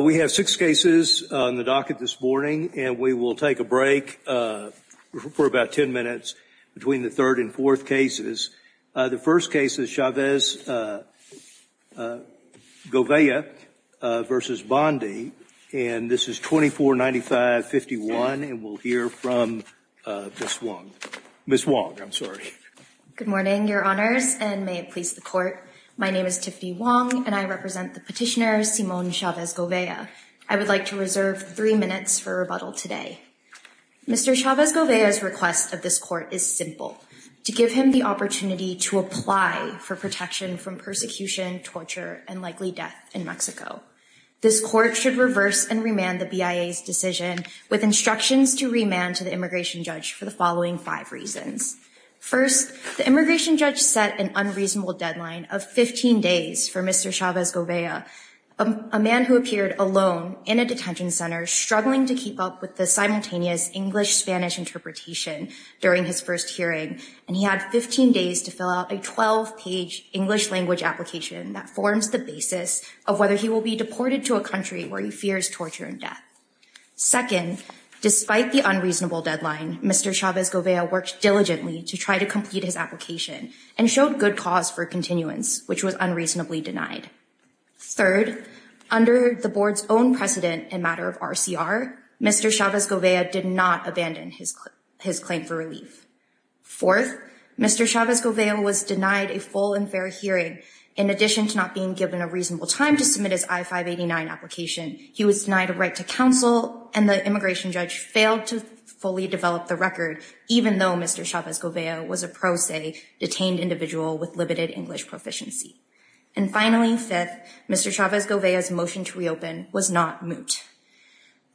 We have six cases on the docket this morning and we will take a break for about 10 minutes between the third and fourth cases. The first case is Chavez- Govea v. Bondi and this is 2495-51 and we'll hear from Ms. Wong. Good morning, Your Honors, and may it please the court. My name is Tiffany Wong and I represent the petitioner Simone Chavez-Govea. I would like to reserve three minutes for rebuttal today. Mr. Chavez-Govea's request of this court is simple, to give him the opportunity to apply for protection from persecution, torture, and likely death in Mexico. This court should reverse and remand the BIA's decision with instructions to remand to the immigration judge for the following five reasons. First, the immigration judge set an unreasonable deadline of 15 days for Mr. Chavez-Govea, a man who appeared alone in a detention center struggling to keep up with the simultaneous English- Spanish interpretation during his first hearing, and he had 15 days to fill out a 12-page English language application that forms the basis of whether he will be deported to a country where he fears torture and death. Second, despite the unreasonable deadline, Mr. Chavez-Govea worked diligently to try to complete his application and showed good cause for continuance, which was unreasonably denied. Third, under the board's own precedent and matter of RCR, Mr. Chavez-Govea did not abandon his claim for relief. Fourth, Mr. Chavez-Govea was denied a full and fair hearing. In addition to not being given a reasonable time to submit his I-589 application, he was denied a right to counsel and the immigration judge failed to fully develop the record, even though Mr. Chavez-Govea was a pro se detained individual with limited English proficiency. And finally, fifth, Mr. Chavez-Govea's motion to reopen was not moot.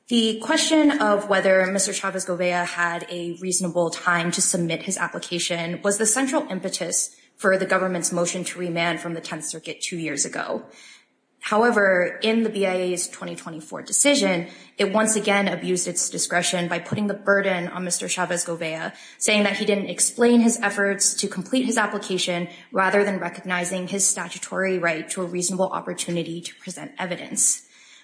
The question of whether Mr. Chavez-Govea had a reasonable time to submit his application was the central impetus for the government's motion to remand from the Tenth Circuit two years ago. However, in the BIA's 2024 decision, it once again abused its discretion by putting the burden on Mr. Chavez-Govea, saying that he didn't explain his efforts to complete his application rather than recognizing his statutory right to a reasonable opportunity to present evidence.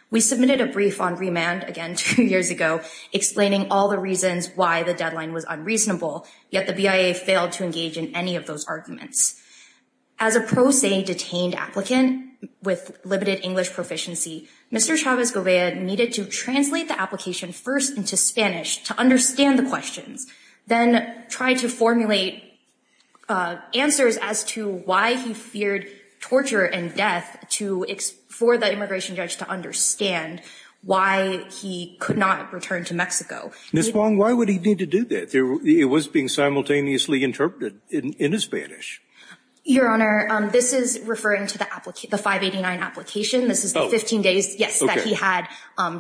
We submitted a brief on remand again two years ago explaining all the reasons why the deadline was unreasonable, yet the BIA failed to engage in any of those arguments. As a pro se detained applicant with limited English proficiency, Mr. Chavez-Govea needed to translate the application first into Spanish to understand the questions, then try to formulate answers as to why he feared torture and death for the immigration judge to understand why he could not return to Mexico. Ms. Wong, why would he need to do that? It was being simultaneously interpreted into Spanish. Your Honor, this is referring to the 589 application. This is the 15 days, yes, that he had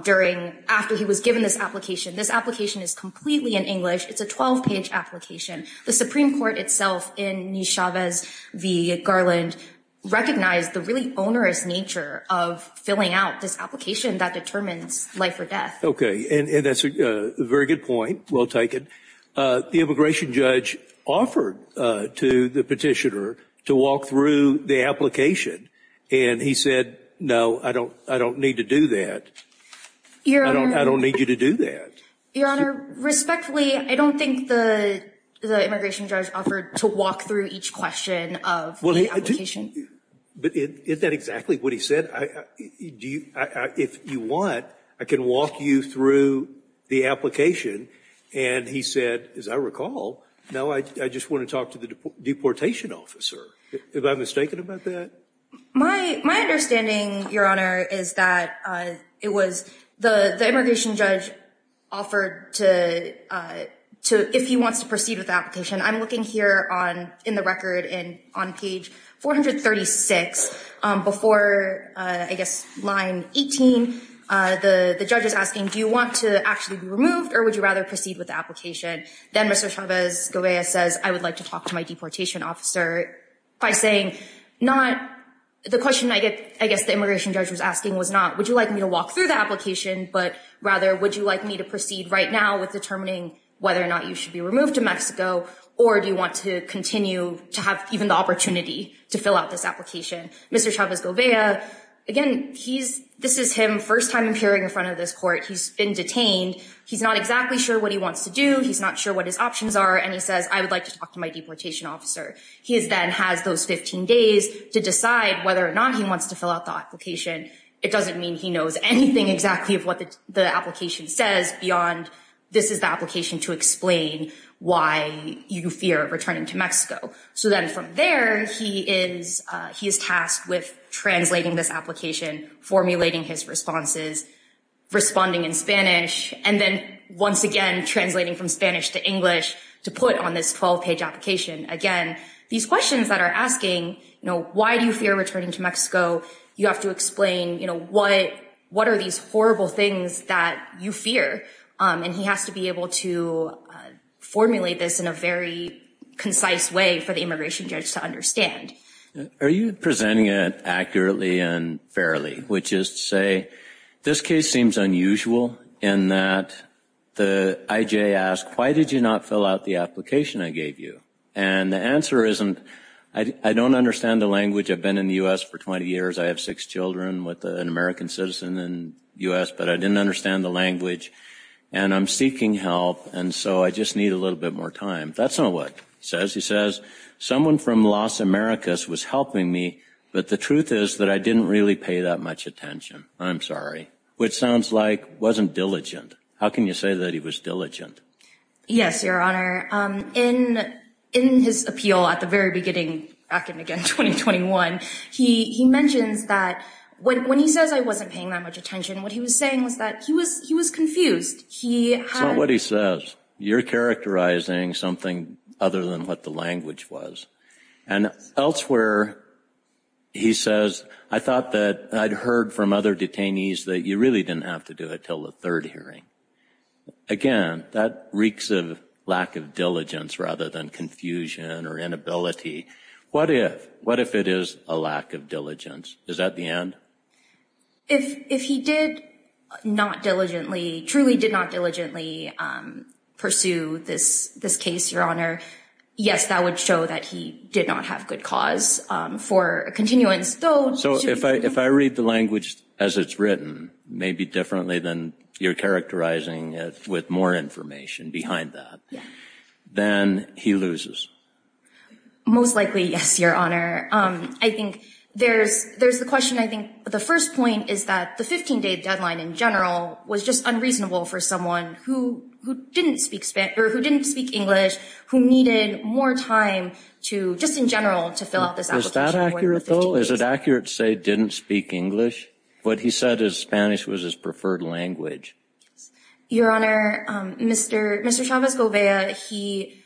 during, after he was given this application. This application is completely in English. It's a 12-page application. The Supreme Court itself, in Mr. Chavez v. Garland, recognized the really onerous nature of filling out this application that determines life or death. Okay, and that's a very good point. Well taken. The immigration judge offered to the petitioner to walk through the application and he said, no, I don't need to do that. I don't need you to do that. Your Honor, respectfully, I don't think the immigration judge offered to walk through each question of the application. But isn't that exactly what he said? If you want, I can walk you through the application and he said, as I recall, no, I just want to talk to the deportation officer. Am I mistaken about that? My understanding, Your Honor, is that it was the immigration judge offered to, if he wants to proceed with the application, I'm looking here in the record and on page 436 before, I guess, line 18, the judge is asking, do you want to actually be removed or would you rather proceed with the application? Then Mr. Chavez-Gobez says, I would like to talk to my deportation officer by saying not, the question I guess the immigration judge was asking was not, would you like me to walk through the application, but rather, would you like me to proceed right now with determining whether or not you should be removed to Mexico or do you want to continue to have even the opportunity to fill out this application? Mr. Chavez-Gobez, again, this is him first time appearing in front of this court. He's been detained. He's not exactly sure what he wants to do. He's not sure what his options are. And he says, I would like to talk to my deportation officer. He then has those 15 days to decide whether or not he wants to fill out the application. It doesn't mean he knows anything exactly of what the application says beyond this is the application to explain why you fear returning to Mexico. So then from there, he is tasked with translating this application, formulating his responses, responding in Spanish, and then once again, translating from Spanish to English to put on this 12 page application. Again, these questions that are asking, you know, why do you fear returning to Mexico? You have to explain, you know, what, what are these horrible things that you fear? And he has to be able to formulate this in a very concise way for the immigration judge to understand. Are you presenting it accurately and fairly, which is to say this case seems unusual in that the IJ asked, why did you not fill out the application I gave you? And the answer isn't, I don't understand the language. I've been in the U.S. for 20 years. I have six children with an American citizen in the U.S., but I didn't understand the language and I'm seeking help. And so I just need a little bit more time. That's not what he says. He says someone from Las Americas was helping me, but the truth is that I didn't really pay that much attention. I'm sorry, which sounds like wasn't diligent. How can you say that he was diligent? Yes, Your Honor, in in his appeal at the very beginning, back in again, 2021, he mentions that when he says I wasn't paying that much attention, what he was saying was that he was he was confused. He had what he says. You're characterizing something other than what the language was. And elsewhere, he says, I thought that I'd heard from other detainees that you really didn't have to do it till the third hearing. Again, that reeks of lack of diligence rather than confusion or inability. What if what if it is a lack of diligence? Is that the end? If if he did not diligently, truly did not diligently pursue this this case, Your Honor, and did not have good cause for a continuance, though, so if I if I read the language as it's written, maybe differently than you're characterizing it with more information behind that, then he loses. Most likely, yes, Your Honor, I think there's there's the question, I think the first point is that the 15 day deadline in general was just unreasonable for someone who who didn't speak Spanish or who didn't speak English, who needed more time to just in general to fill out this is that accurate, though, is it accurate to say didn't speak English? What he said is Spanish was his preferred language. Your Honor, Mr. Mr. Chavez Govea, he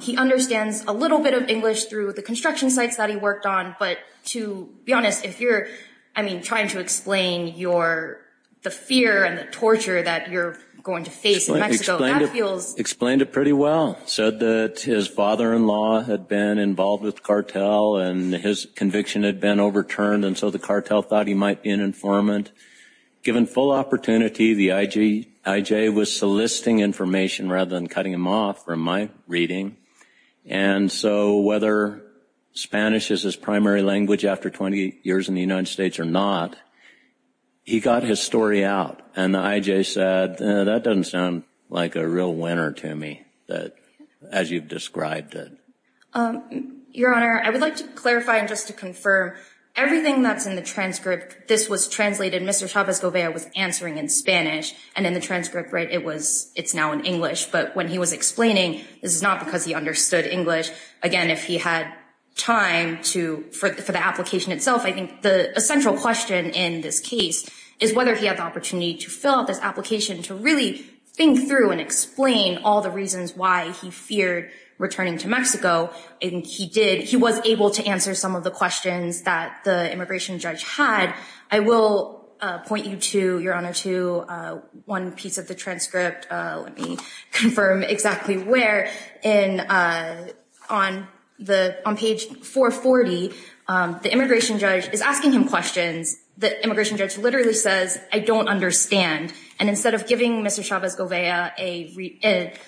he understands a little bit of English through the construction sites that he worked on. But to be honest, if you're, I mean, trying to explain your the fear and the torture that you're going to face in Mexico, that feels explained it pretty well, said that his father in law had been involved with the cartel and his conviction had been overturned. And so the cartel thought he might be an informant given full opportunity. The I.J. was soliciting information rather than cutting him off from my reading. And so whether Spanish is his primary language after 20 years in the United States or not, he got his story out. And the I.J. said that doesn't sound like a real winner to me that as you've described it. Your Honor, I would like to clarify and just to confirm everything that's in the transcript. This was translated. Mr. Chavez Govea was answering in Spanish and in the transcript. Right. It was it's now in English. But when he was explaining, this is not because he understood English again. If he had time to for the application itself, I think the central question in this case is whether he had the opportunity to fill out this application, to really think through and explain all the reasons why he feared returning to Mexico. And he did. He was able to answer some of the questions that the immigration judge had. I will point you to your honor to one piece of the transcript. Let me confirm exactly where in on the on page 440, the immigration judge is asking him questions. The immigration judge literally says, I don't understand. And instead of giving Mr. Chavez Govea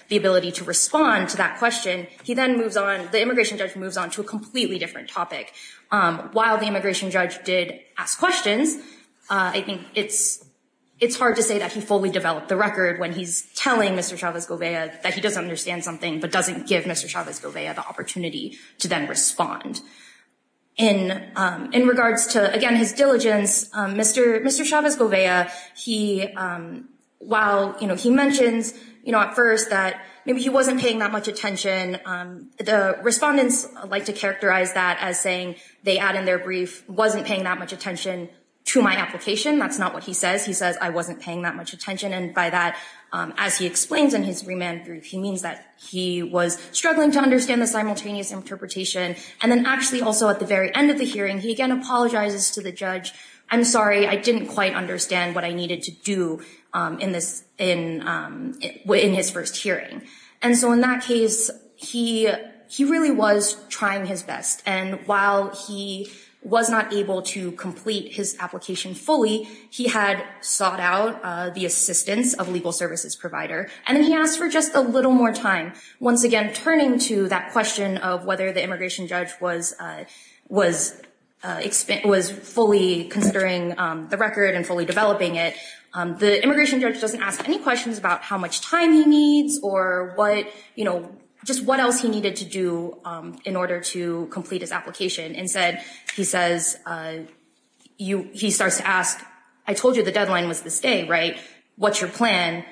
the ability to respond to that question, he then moves on. The immigration judge moves on to a completely different topic. While the immigration judge did ask questions, I think it's it's hard to say that he fully developed the record when he's telling Mr. Chavez Govea that he doesn't understand something, but doesn't give Mr. Chavez Govea the opportunity to then respond. And in regards to, again, his diligence, Mr. Mr. Chavez Govea, he while he mentions, you know, at first that maybe he wasn't paying that much attention, the respondents like to characterize that as saying they add in their brief, wasn't paying that much attention to my application. That's not what he says. He says I wasn't paying that much attention. And by that, as he explains in his remand brief, he means that he was struggling to understand the simultaneous interpretation. And then actually also at the very end of the hearing, he again apologizes to the judge. I'm sorry, I didn't quite understand what I needed to do in this in his first hearing. And so in that case, he he really was trying his best. And while he was not able to complete his application fully, he had sought out the assistance of a legal services provider. And then he asked for just a little more time, once again, turning to that question of whether the immigration judge was was was fully considering the record and fully developing it. The immigration judge doesn't ask any questions about how much time he needs or what, you know, just what else he needed to do in order to complete his application. Instead, he says you he starts to ask, I told you the deadline was this day. Right. What's your plan?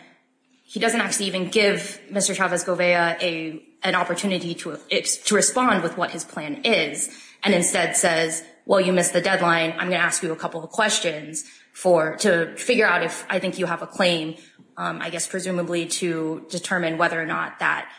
He doesn't actually even give Mr. Chavez Govea a an opportunity to to respond with what his plan is and instead says, well, you missed the deadline. I'm going to ask you a couple of questions for to figure out if I think you have a I guess presumably to determine whether or not that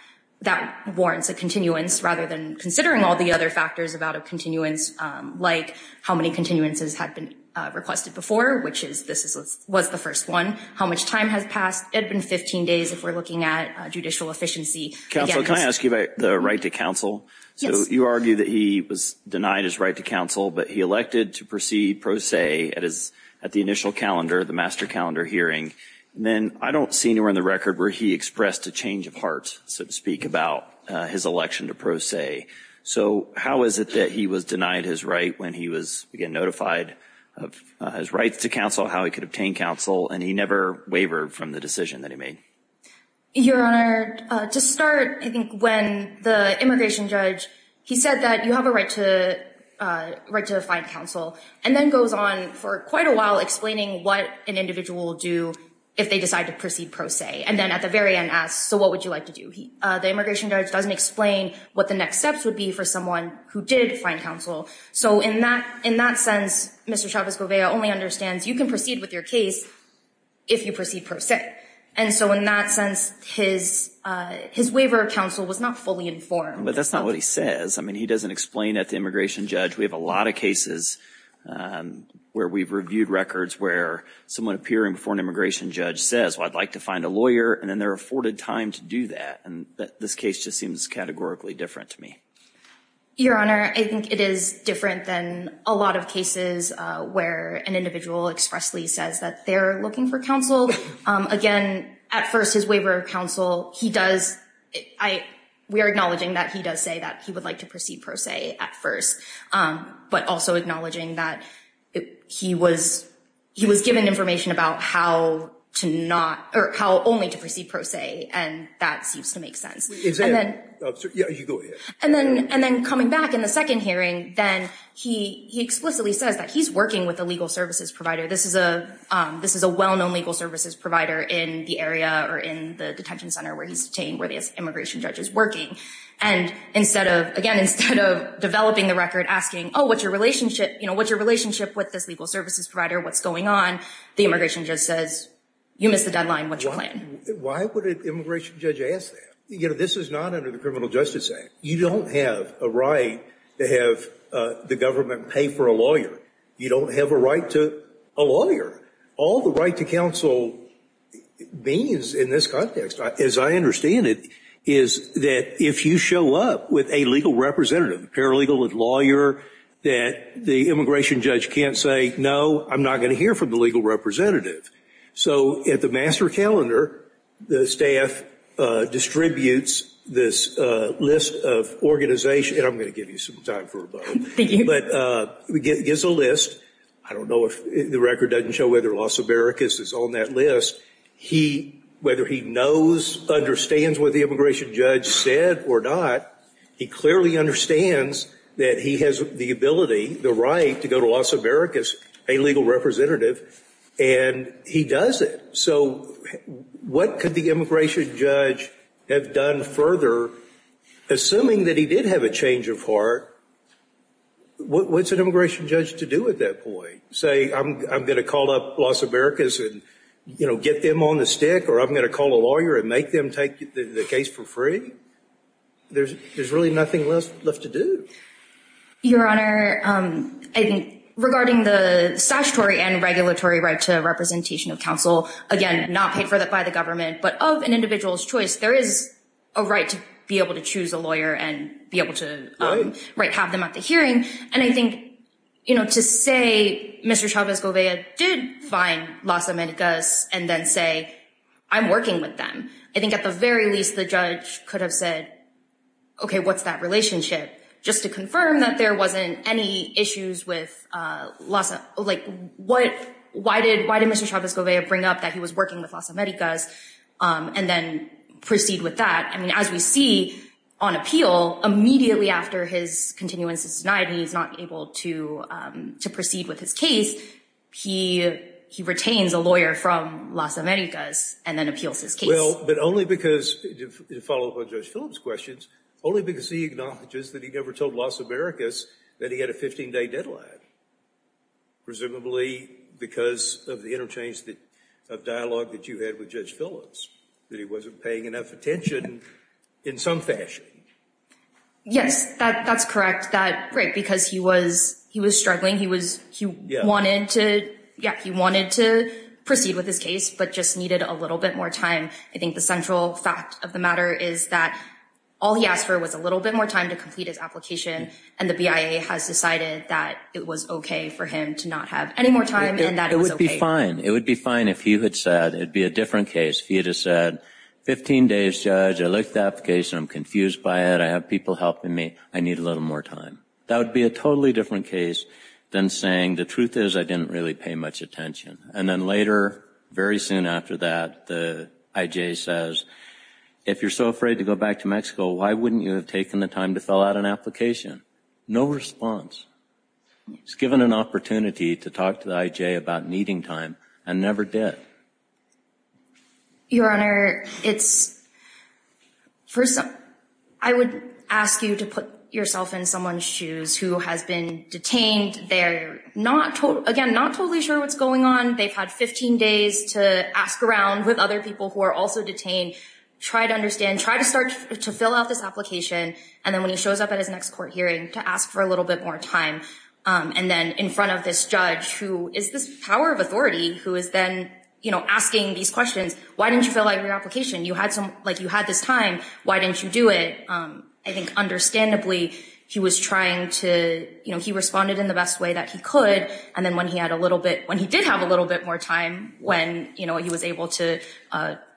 that warrants a continuance rather than considering all the other factors about a continuance, like how many continuances had been requested before, which is this was the first one. How much time has passed? It had been 15 days if we're looking at judicial efficiency. Counsel, can I ask you about the right to counsel? So you argue that he was denied his right to counsel, but he elected to proceed pro se at his at the initial calendar, the master calendar hearing. And then I don't see anywhere in the record where he expressed a change of heart, so to speak, about his election to pro se. So how is it that he was denied his right when he was notified of his right to counsel, how he could obtain counsel? And he never wavered from the decision that he made. Your Honor, to start, I think when the immigration judge, he said that you have a right to right to find counsel and then goes on for quite a while explaining what an individual will do if they decide to proceed pro se. And then at the very end asks, so what would you like to do? The immigration judge doesn't explain what the next steps would be for someone who did find counsel. So in that in that sense, Mr. Chavez-Govea only understands you can proceed with your case if you proceed pro se. And so in that sense, his his waiver of counsel was not fully informed. But that's not what he says. I mean, he doesn't explain at the immigration judge. We have a lot of cases where we've reviewed records where someone appearing for an immigration judge says, well, I'd like to find a lawyer and then they're afforded time to do that. And this case just seems categorically different to me. Your Honor, I think it is different than a lot of cases where an individual expressly says that they're looking for counsel. Again, at first, his waiver of counsel, he does I we are acknowledging that he does say that he would like to proceed pro se at first, but also acknowledging that he was he was given information about how to not or how only to proceed pro se. And that seems to make sense. And then and then coming back in the second hearing, then he explicitly says that he's working with a legal services provider. This is a this is a well-known legal services provider in the area or in the detention center where he's detained, where the immigration judge is working. And instead of again, instead of developing the record, asking, oh, what's your relationship? You know, what's your relationship with this legal services provider? What's going on? The immigration just says, you missed the deadline. What's your plan? Why would an immigration judge ask that? You know, this is not under the Criminal Justice Act. You don't have a right to have the government pay for a lawyer. You don't have a right to a lawyer. All the right to counsel means in this context, as I understand it, is that if you show up with a legal representative, a paralegal, a lawyer, that the immigration judge can't say, no, I'm not going to hear from the legal representative. So at the master calendar, the staff distributes this list of organizations. And I'm going to give you some time for a vote, but it gives a list. I don't know if the record doesn't show whether Las Americas is on that list. He, whether he knows, understands what the immigration judge said or not, he clearly understands that he has the ability, the right to go to Las Americas, a legal representative, and he does it. So what could the immigration judge have done further, assuming that he did have a change of heart? What's an immigration judge to do at that point? Say, I'm going to call up Las Americas and, you know, get them on the stick, or I'm going to call a lawyer and make them take the case for free? There's really nothing left to do. Your Honor, I think regarding the statutory and regulatory right to representation of counsel, again, not paid for by the government, but of an individual's choice, there is a right to be able to choose a lawyer and be able to have them at the hearing. And I think, you know, to say Mr. Chavez-Govea did find Las Americas and then say, I'm working with them. I think at the very least, the judge could have said, OK, what's that relationship? Just to confirm that there wasn't any issues with, like, why did Mr. Chavez-Govea bring up that he was working with Las Americas and then proceed with that? I mean, as we see on appeal, immediately after his continuance is denied and he's not able to proceed with his case, he retains a lawyer from Las Americas and then appeals his case. Well, but only because, to follow up on Judge Phillips' questions, only because he acknowledges that he never told Las Americas that he had a 15-day deadline. Presumably because of the interchange of dialogue that you had with Judge Phillips, that he wasn't paying enough attention in some fashion. Yes, that's correct. That's right, because he was struggling. He wanted to proceed with his case, but just needed a little bit more time. I think the central fact of the matter is that all he asked for was a little bit more time to complete his application, and the BIA has decided that it was OK for him to not have any more time and that it was OK. It would be fine if he had said, it'd be a different case if he had said, 15 days, Judge, I looked at the application, I'm confused by it, I have people helping me, I need a little more time. That would be a totally different case than saying, the truth is, I didn't really pay much attention. And then later, very soon after that, the IJ says, if you're so afraid to go back to Mexico, why wouldn't you have taken the time to fill out an application? No response. He's given an opportunity to talk to the IJ about needing time and never did. Your Honor, it's, first, I would ask you to put yourself in someone's shoes who has been detained. They're not, again, not totally sure what's going on. They've had 15 days to ask around with other people who are also detained, try to understand, try to start to fill out this application. And then when he shows up at his next court hearing to ask for a little bit more time and then in front of this judge, who is this power of authority, who is then asking these questions, why didn't you fill out your application? You had some, like you had this time. Why didn't you do it? I think understandably, he was trying to, you know, he responded in the best way that he could. And then when he had a little bit, when he did have a little bit more time, when, you know, he was able to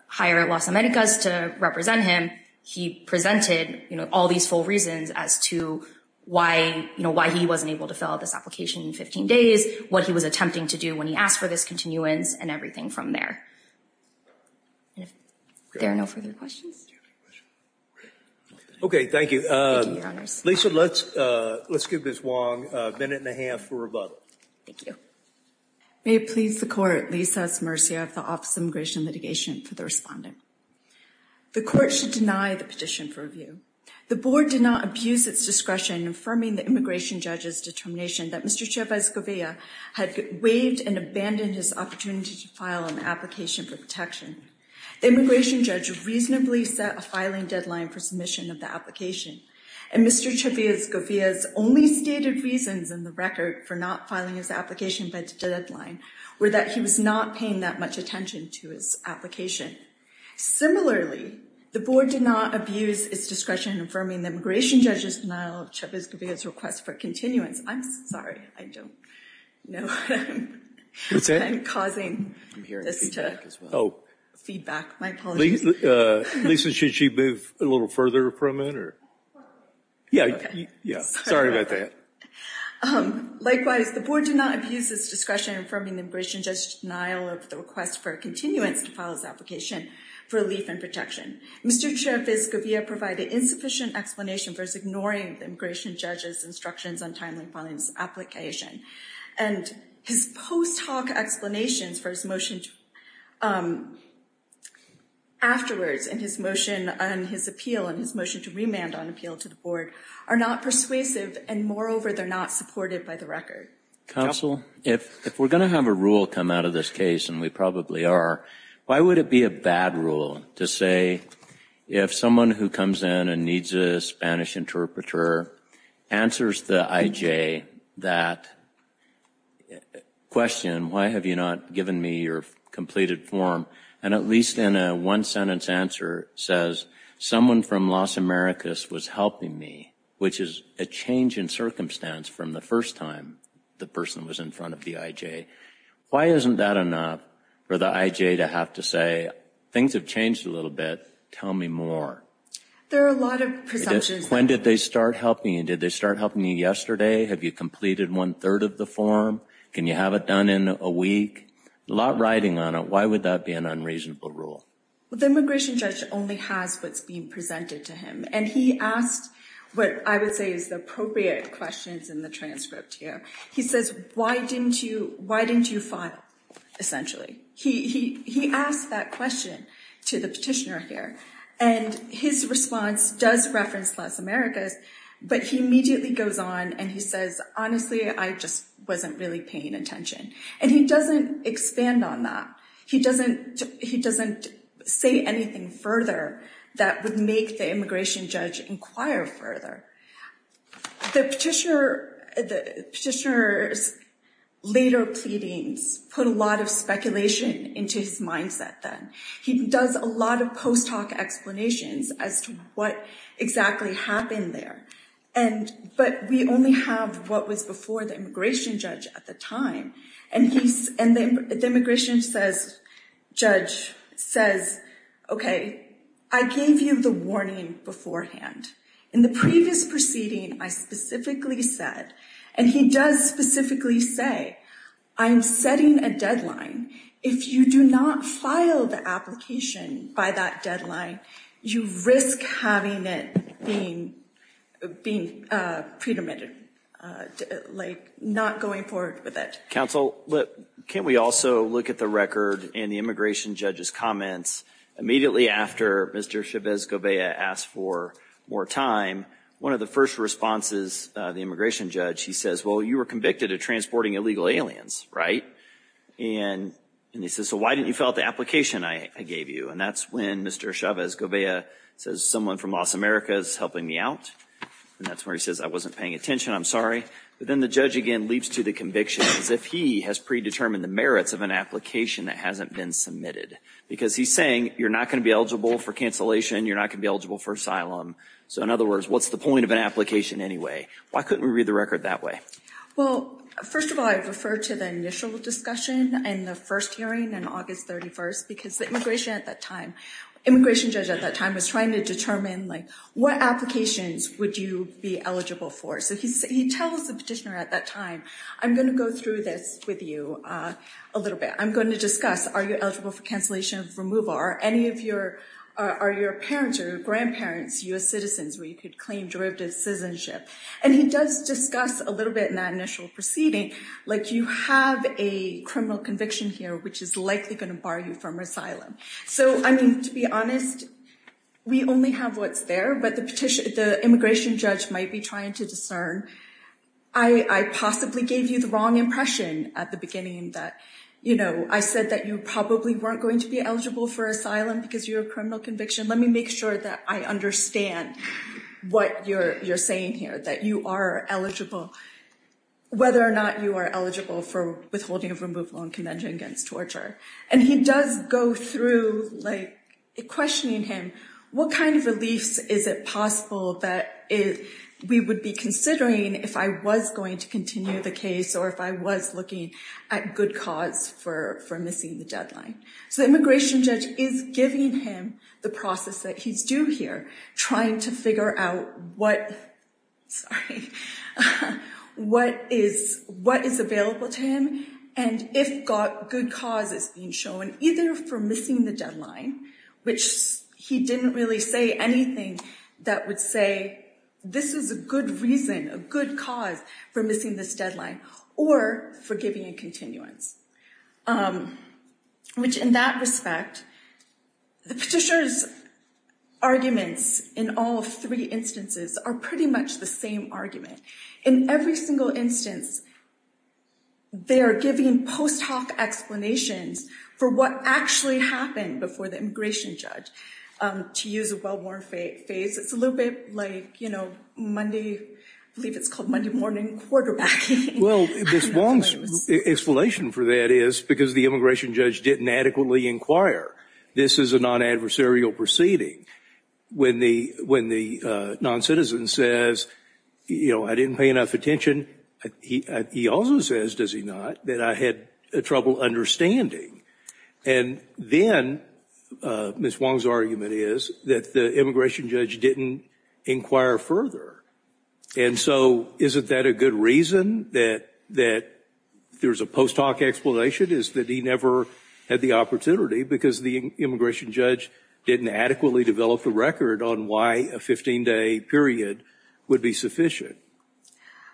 hire at Las Americas to represent him, he presented, you know, all these full reasons as to why, you know, why he wasn't able to fill out this application in 15 days, what he was attempting to do when he asked for this continuance and everything from there. And if there are no further questions. OK, thank you. Lisa, let's let's give Ms. Wong a minute and a half for rebuttal. Thank you. May it please the court, Lisa S. Murcia of the Office of Immigration Litigation for the respondent. The court should deny the petition for review. The board did not abuse its discretion in affirming the immigration judge's determination that Mr. Chavez Govia had waived and abandoned his opportunity to file an application for protection. The immigration judge reasonably set a filing deadline for submission of the application. And Mr. Chavez Govia's only stated reasons in the record for not filing his application by the deadline were that he was not paying that much attention to his application. Similarly, the board did not abuse its discretion in affirming the immigration judge's denial of Chavez Govia's request for continuance. I'm sorry, I don't know what I'm causing this to, feedback. My apologies. Lisa, should she move a little further from it or? Yeah. Yeah. Sorry about that. Likewise, the board did not abuse its discretion in affirming the immigration judge's denial of the request for continuance to file his application for relief and protection. Mr. Chavez Govia provided insufficient explanation for his ignoring the immigration judge's instructions on timely filing his application and his post hoc explanations for his motion afterwards and his motion on his appeal and his motion to remand on appeal to the board are not persuasive. And moreover, they're not supported by the record. Counsel, if we're going to have a rule come out of this case, and we probably are, why would it be a bad rule to say if someone who comes in and needs a Spanish interpreter answers the IJ that question, why have you not given me your completed form? And at least in a one sentence answer says someone from Las Americas was helping me, which is a change in circumstance from the first time the person was in front of the IJ. Why isn't that enough for the IJ to have to say things have changed a little bit? Tell me more. There are a lot of presumptions. When did they start helping you? Did they start helping you yesterday? Have you completed one third of the form? Can you have it done in a week? A lot riding on it. Why would that be an unreasonable rule? Well, the immigration judge only has what's being presented to him. And he asked what I would say is the appropriate questions in the transcript here. He says, why didn't you, why didn't you file? Essentially, he asked that question to the petitioner here and his response does reference Las Americas. But he immediately goes on and he says, honestly, I just wasn't really paying attention. And he doesn't expand on that. He doesn't he doesn't say anything further that would make the immigration judge inquire further. The petitioner, the petitioner's later pleadings put a lot of speculation into his mindset that he does a lot of post hoc explanations as to what exactly happened there. And but we only have what was before the immigration judge at the time. And he's and the immigration judge says, OK, I gave you the warning beforehand. In the previous proceeding, I specifically said, and he does specifically say, I'm setting a deadline. If you do not file the application by that deadline, you risk having it being being predetermined, like not going forward with it. Counsel, can't we also look at the record and the immigration judge's comments immediately after Mr. Chavez-Govea asked for more time? One of the first responses, the immigration judge, he says, well, you were convicted of transporting illegal aliens, right? And he says, so why didn't you fill out the application I gave you? And that's when Mr. Chavez-Govea says someone from Los Americas is helping me out. And that's where he says I wasn't paying attention. I'm sorry. But then the judge again leaps to the conviction as if he has predetermined the merits of an application that hasn't been submitted, because he's saying you're not going to be eligible for cancellation. You're not going to be eligible for asylum. So in other words, what's the point of an application anyway? Why couldn't we read the record that way? Well, first of all, I refer to the initial discussion and the first hearing on August 31st because the immigration at that time, immigration judge at that time was trying to determine like what applications would you be eligible for? So he tells the petitioner at that time, I'm going to go through this with you a little bit. I'm going to discuss, are you eligible for cancellation of removal? Are any of your are your parents or grandparents U.S. citizens where you could claim derivative citizenship? And he does discuss a little bit in that initial proceeding, like you have a criminal conviction here, which is likely going to bar you from asylum. So, I mean, to be honest, we only have what's there. But the immigration judge might be trying to discern. I possibly gave you the wrong impression at the beginning that, you know, I said that you probably weren't going to be eligible for asylum because you're a criminal conviction. Let me make sure that I understand what you're saying here, that you are eligible, whether or not you are eligible for withholding of removal and convention against torture. And he does go through like questioning him. What kind of reliefs is it possible that we would be considering if I was going to continue the case or if I was looking at good cause for missing the deadline? So the immigration judge is giving him the process that he's due here, trying to figure out what is available to him and if good cause is being shown, either for missing the deadline, which he didn't really say anything that would say this is a good reason, a good cause for missing this deadline or for giving a continuance. Which in that respect, the petitioner's arguments in all three instances are pretty much the same argument. In every single instance, they are giving post hoc explanations for what actually happened before the immigration judge to use a well-worn face. It's a little bit like, you know, Monday, I believe it's called Monday morning quarterbacking. Well, Ms. Wong's explanation for that is because the immigration judge didn't adequately inquire. This is a non-adversarial proceeding. When the non-citizen says, you know, I didn't pay enough attention, he also says, does he not, that I had trouble understanding. And then Ms. Wong's argument is that the immigration judge didn't inquire further. And so isn't that a good reason that there's a post hoc explanation, is that he never had the opportunity because the immigration judge didn't adequately develop the record on why a 15 day period would be sufficient?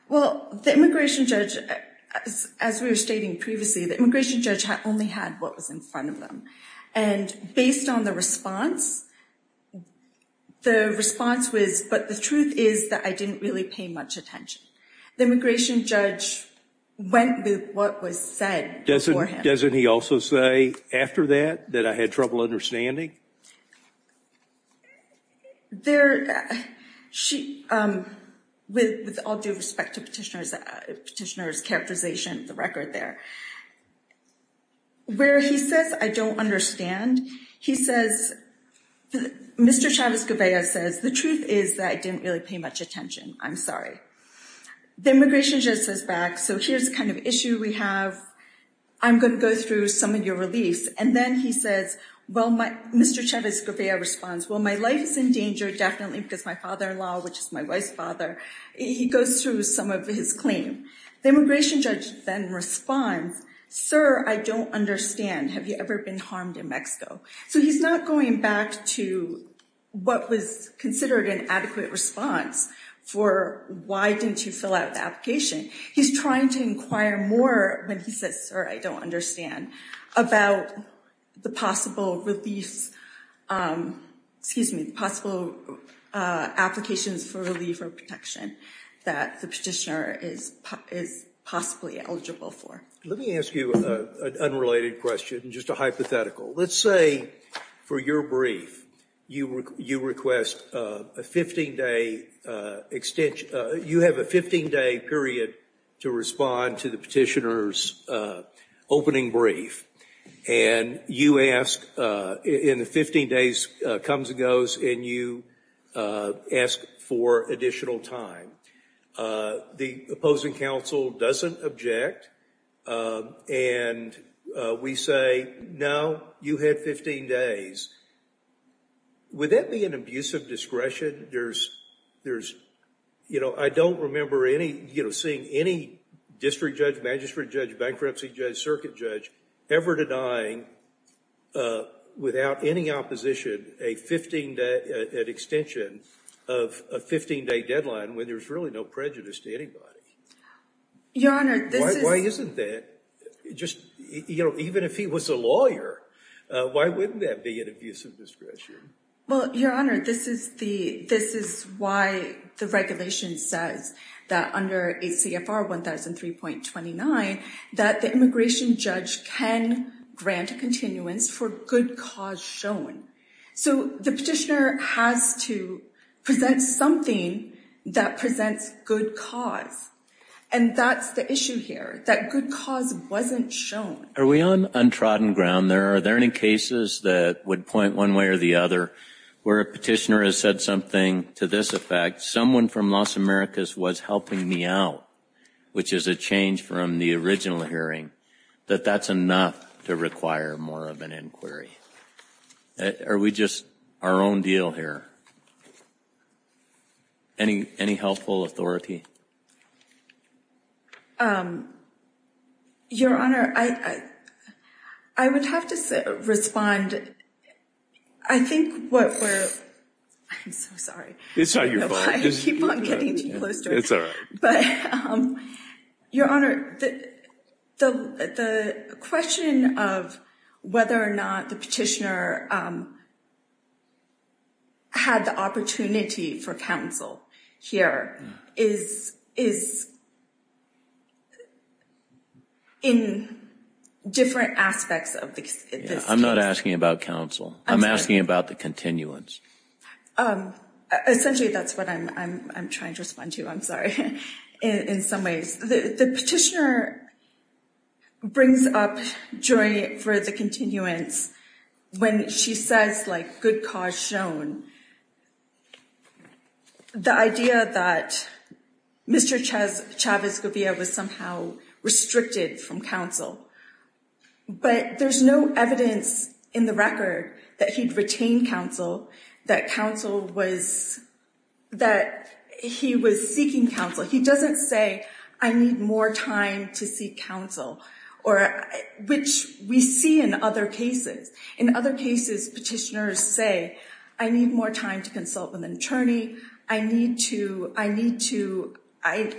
Well, the immigration judge, as we were stating previously, the immigration judge only had what was in front of them. And based on the response, the response was, but the truth is that I didn't really pay much attention. The immigration judge went with what was said. Doesn't he also say after that, that I had trouble understanding? There, she, with all due respect to petitioner's characterization of the record there. Where he says, I don't understand, he says, Mr. Chavez-Guevara says, the truth is that I didn't really pay much attention. I'm sorry. The immigration judge says back, so here's the kind of issue we have. I'm going to go through some of your reliefs. And then he says, well, Mr. Chavez-Guevara responds, well, my life is in danger, definitely, because my father in law, which is my wife's father, he goes through some of his claim. The immigration judge then responds, sir, I don't understand. Have you ever been harmed in Mexico? So he's not going back to what was considered an adequate response for why didn't you fill out the application. He's trying to inquire more when he says, sir, I don't understand about the possible reliefs, excuse me, possible applications for relief or protection that the petitioner is possibly eligible for. Let me ask you an unrelated question, just a hypothetical. Let's say for your brief, you request a 15-day extension, you have a 15-day period to respond to the petitioner's opening brief and you ask in the 15 days comes and goes and you ask for additional time. The opposing counsel doesn't object and we say, no, you had 15 days. Would that be an abuse of discretion? I don't remember seeing any district judge, magistrate judge, bankruptcy judge, circuit judge ever denying, without any opposition, an extension of a 15-day deadline when there's really no prejudice to anybody. Your Honor, why isn't that just, you know, even if he was a lawyer, why wouldn't that be an abuse of discretion? Well, Your Honor, this is why the regulation says that under ACFR 1003.29, that the immigration judge can grant a continuance for good cause shown. So the petitioner has to present something that presents good cause and that's the issue here, that good cause wasn't shown. Are we on untrodden ground there? Are there any cases that would point one way or the other where a petitioner has said something to this effect, someone from Las Americas was helping me out, which is a change from the original hearing, that that's enough to require more of an inquiry? Are we just our own deal here? Any helpful authority? Your Honor, I would have to respond. I think what we're, I'm so sorry. It's not your fault. I keep on getting too close to it. It's all right. But, Your Honor, the question of whether or not the petitioner had the opportunity for counsel here is in different aspects of this case. I'm not asking about counsel. I'm asking about the continuance. Essentially, that's what I'm trying to respond to. I'm sorry, in some ways, the petitioner brings up joy for the continuance when she says, like, good cause shown. The idea that Mr. Chavez Govia was somehow restricted from counsel, but there's no evidence in the record that he'd retained counsel, that counsel was, that he was seeking counsel. He doesn't say, I need more time to seek counsel, which we see in other cases. In other cases, petitioners say, I need more time to consult with an attorney. I need to, I need to, I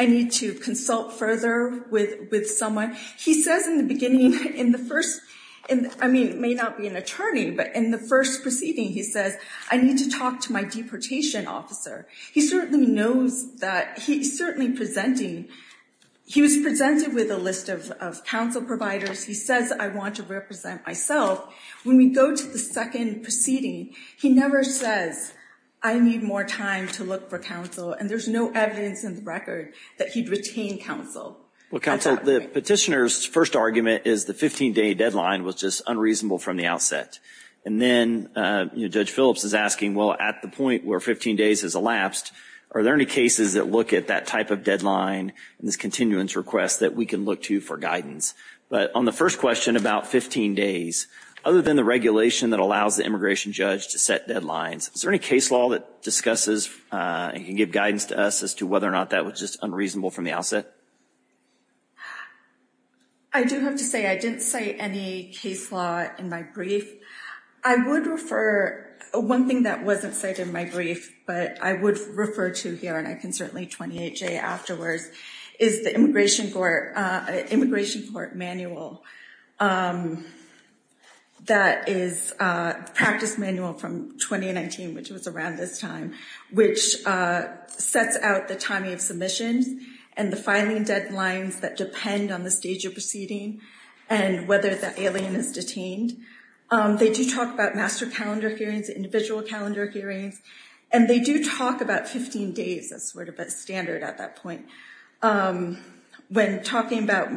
need to consult further with someone. He says in the beginning, in the first, I mean, may not be an attorney, but in the first proceeding, he says, I need to talk to my deportation officer. He certainly knows that he's certainly presenting. He was presented with a list of counsel providers. He says, I want to represent myself. When we go to the second proceeding, he never says, I need more time to look for counsel. And there's no evidence in the record that he'd retained counsel. Well, counsel, the petitioner's first argument is the 15 day deadline was just unreasonable from the outset. And then Judge Phillips is asking, well, at the point where 15 days has elapsed, are there any cases that look at that type of deadline and this continuance request that we can look to for guidance? But on the first question about 15 days, other than the regulation that allows the immigration judge to set deadlines, is there any case law that discusses and can give guidance to us as to whether or not that was just unreasonable from the outset? I do have to say, I didn't say any case law in my brief. I would refer one thing that wasn't cited in my brief, but I would refer to here, and I can certainly 28-J afterwards, is the immigration court manual that is a practice manual from 2019, which was around this time, which sets out the timing of admissions and the filing deadlines that depend on the stage of proceeding and whether the alien is detained. They do talk about master calendar hearings, individual calendar hearings, and they do talk about 15 days. That's sort of a standard at that point. When talking about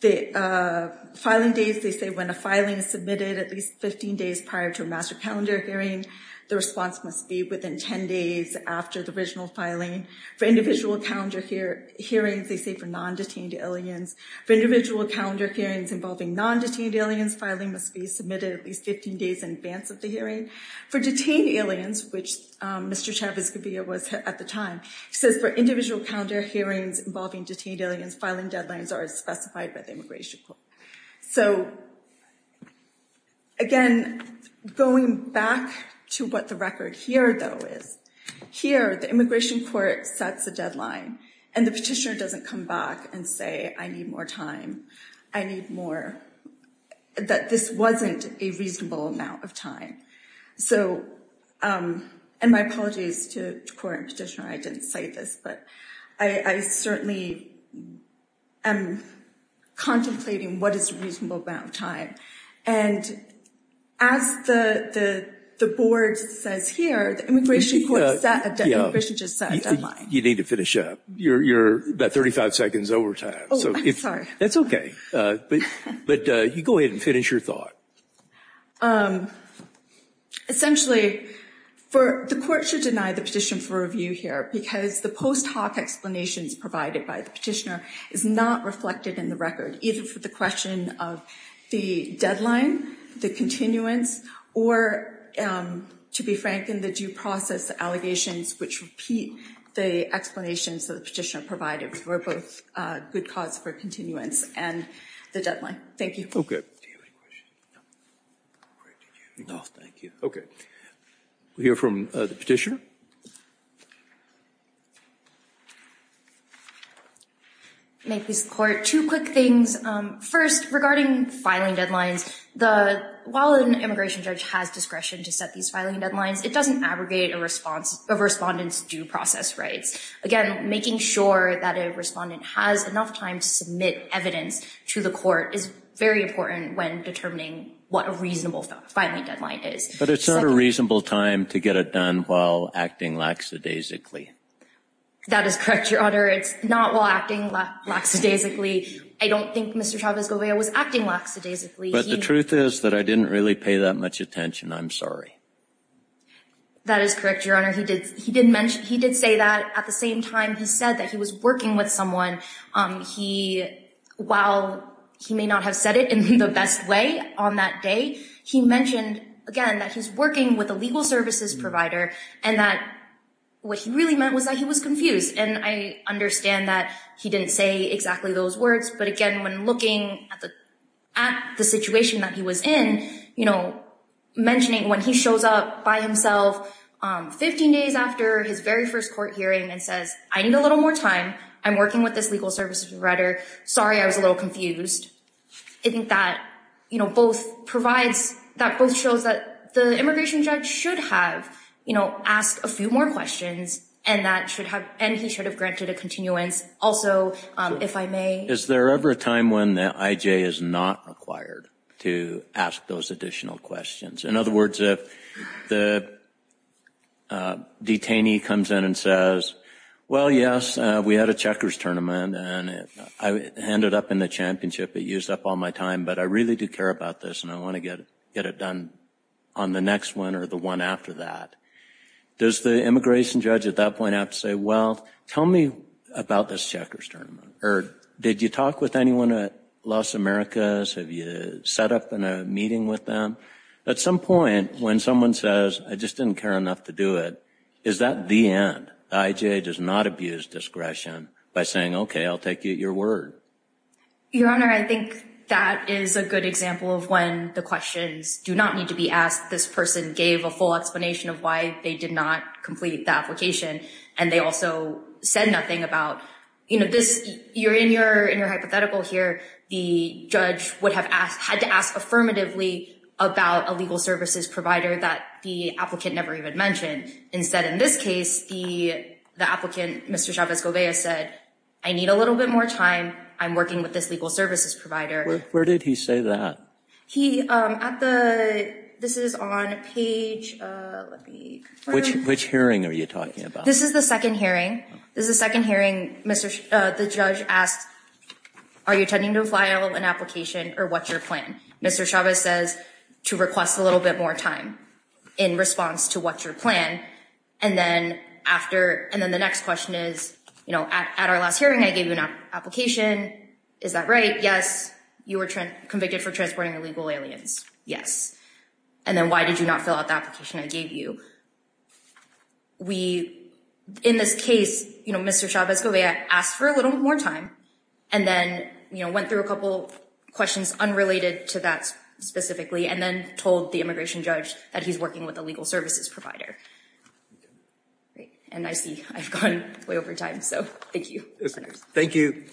the filing days, they say when a filing is submitted at least 15 days prior to a master calendar hearing, the response must be within 10 days after the original filing. For individual calendar hearings, they say for non-detained aliens. For individual calendar hearings involving non-detained aliens, filing must be submitted at least 15 days in advance of the hearing. For detained aliens, which Mr. Chavez-Gaviria was at the time, he says for individual calendar hearings involving detained aliens, filing deadlines are as specified by the immigration court. So, again, going back to what the record here, though, is, here, the immigration court sets a deadline and the petitioner doesn't come back and say, I need more time. I need more, that this wasn't a reasonable amount of time. and my apologies to the court and petitioner, I didn't cite this, but I certainly am contemplating what is a reasonable amount of time. And as the board says here, the immigration court set a deadline. You need to finish up. You're about 35 seconds over time. Oh, I'm sorry. That's okay, but you go ahead and finish your thought. Essentially, the court should deny the petition for review here because the post hoc explanations provided by the petitioner is not reflected in the record, either for the question of the deadline, the continuance, or to be frank, in the due process, the allegations which repeat the explanations that the petitioner provided were both a good cause for continuance and the deadline. Thank you. Okay, we'll hear from the petitioner. I make this court two quick things. First, regarding filing deadlines, while an immigration judge has discretion to set these filing deadlines, it doesn't abrogate a respondent's due process rights. Again, making sure that a respondent has enough time to submit evidence to the court is very important when determining what a reasonable filing deadline is. But it's not a reasonable time to get it done while acting laxadaisically. That is correct, Your Honor. It's not while acting laxadaisically. I don't think Mr. Chavez-Govea was acting laxadaisically. But the truth is that I didn't really pay that much attention. I'm sorry. That is correct, Your Honor. He did mention, he did say that at the same time he said that he was working with someone. He, while he may not have said it in the best way on that day, he mentioned, again, that he's working with a legal services provider and that what he really meant was that he was confused. And I understand that he didn't say exactly those words. But again, when looking at the situation that he was in, you know, mentioning when he shows up by himself 15 days after his very first court hearing and says, I need a little more time. I'm working with this legal services provider. Sorry, I was a little confused. I think that, you know, both provides, that both shows that the immigration judge should have, you know, asked a few more questions and that should have, and he should have granted a continuance. Also, if I may. Is there ever a time when the IJ is not required to ask those additional questions? In other words, if the detainee comes in and says, well, yes, we had a checkers tournament and I ended up in the championship. It used up all my time, but I really do care about this and I want to get it done on the next one or the one after that. Does the immigration judge at that point have to say, well, tell me about this checkers tournament? Or did you talk with anyone at Los Americas? Have you set up in a meeting with them? At some point when someone says, I just didn't care enough to do it, is that the end? The IJ does not abuse discretion by saying, okay, I'll take you at your word. Your Honor, I think that is a good example of when the questions do not need to be asked. This person gave a full explanation of why they did not complete the application and they also said nothing about, you know, this, you're in your hypothetical here. The judge would have asked, had to ask affirmatively about a legal services provider that the applicant never even mentioned. Instead in this case, the applicant, Mr. Chavez-Gobez said, I need a little bit more time. I'm working with this legal services provider. Where did he say that? He, at the, this is on page... Which, which hearing are you talking about? This is the second hearing. This is the second hearing, Mr., the judge asked, are you attending to a file, an application, or what's your plan? Mr. Chavez says to request a little bit more time in response to what's your plan. And then after, and then the next question is, you know, at our last hearing I gave you an application. Is that right? Yes. You were convicted for transporting illegal aliens. Yes. And then why did you not fill out the application I gave you? We, in this case, you know, Mr. Chavez-Gobez asked for a little more time. And then, you know, went through a couple questions unrelated to that, specifically, and then told the immigration judge that he's working with a legal services provider. And I see I've gone way over time, so thank you. Thank you.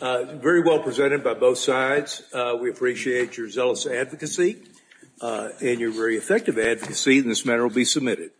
Very well presented by both sides. We appreciate your zealous advocacy and your very effective advocacy, and this matter will be submitted.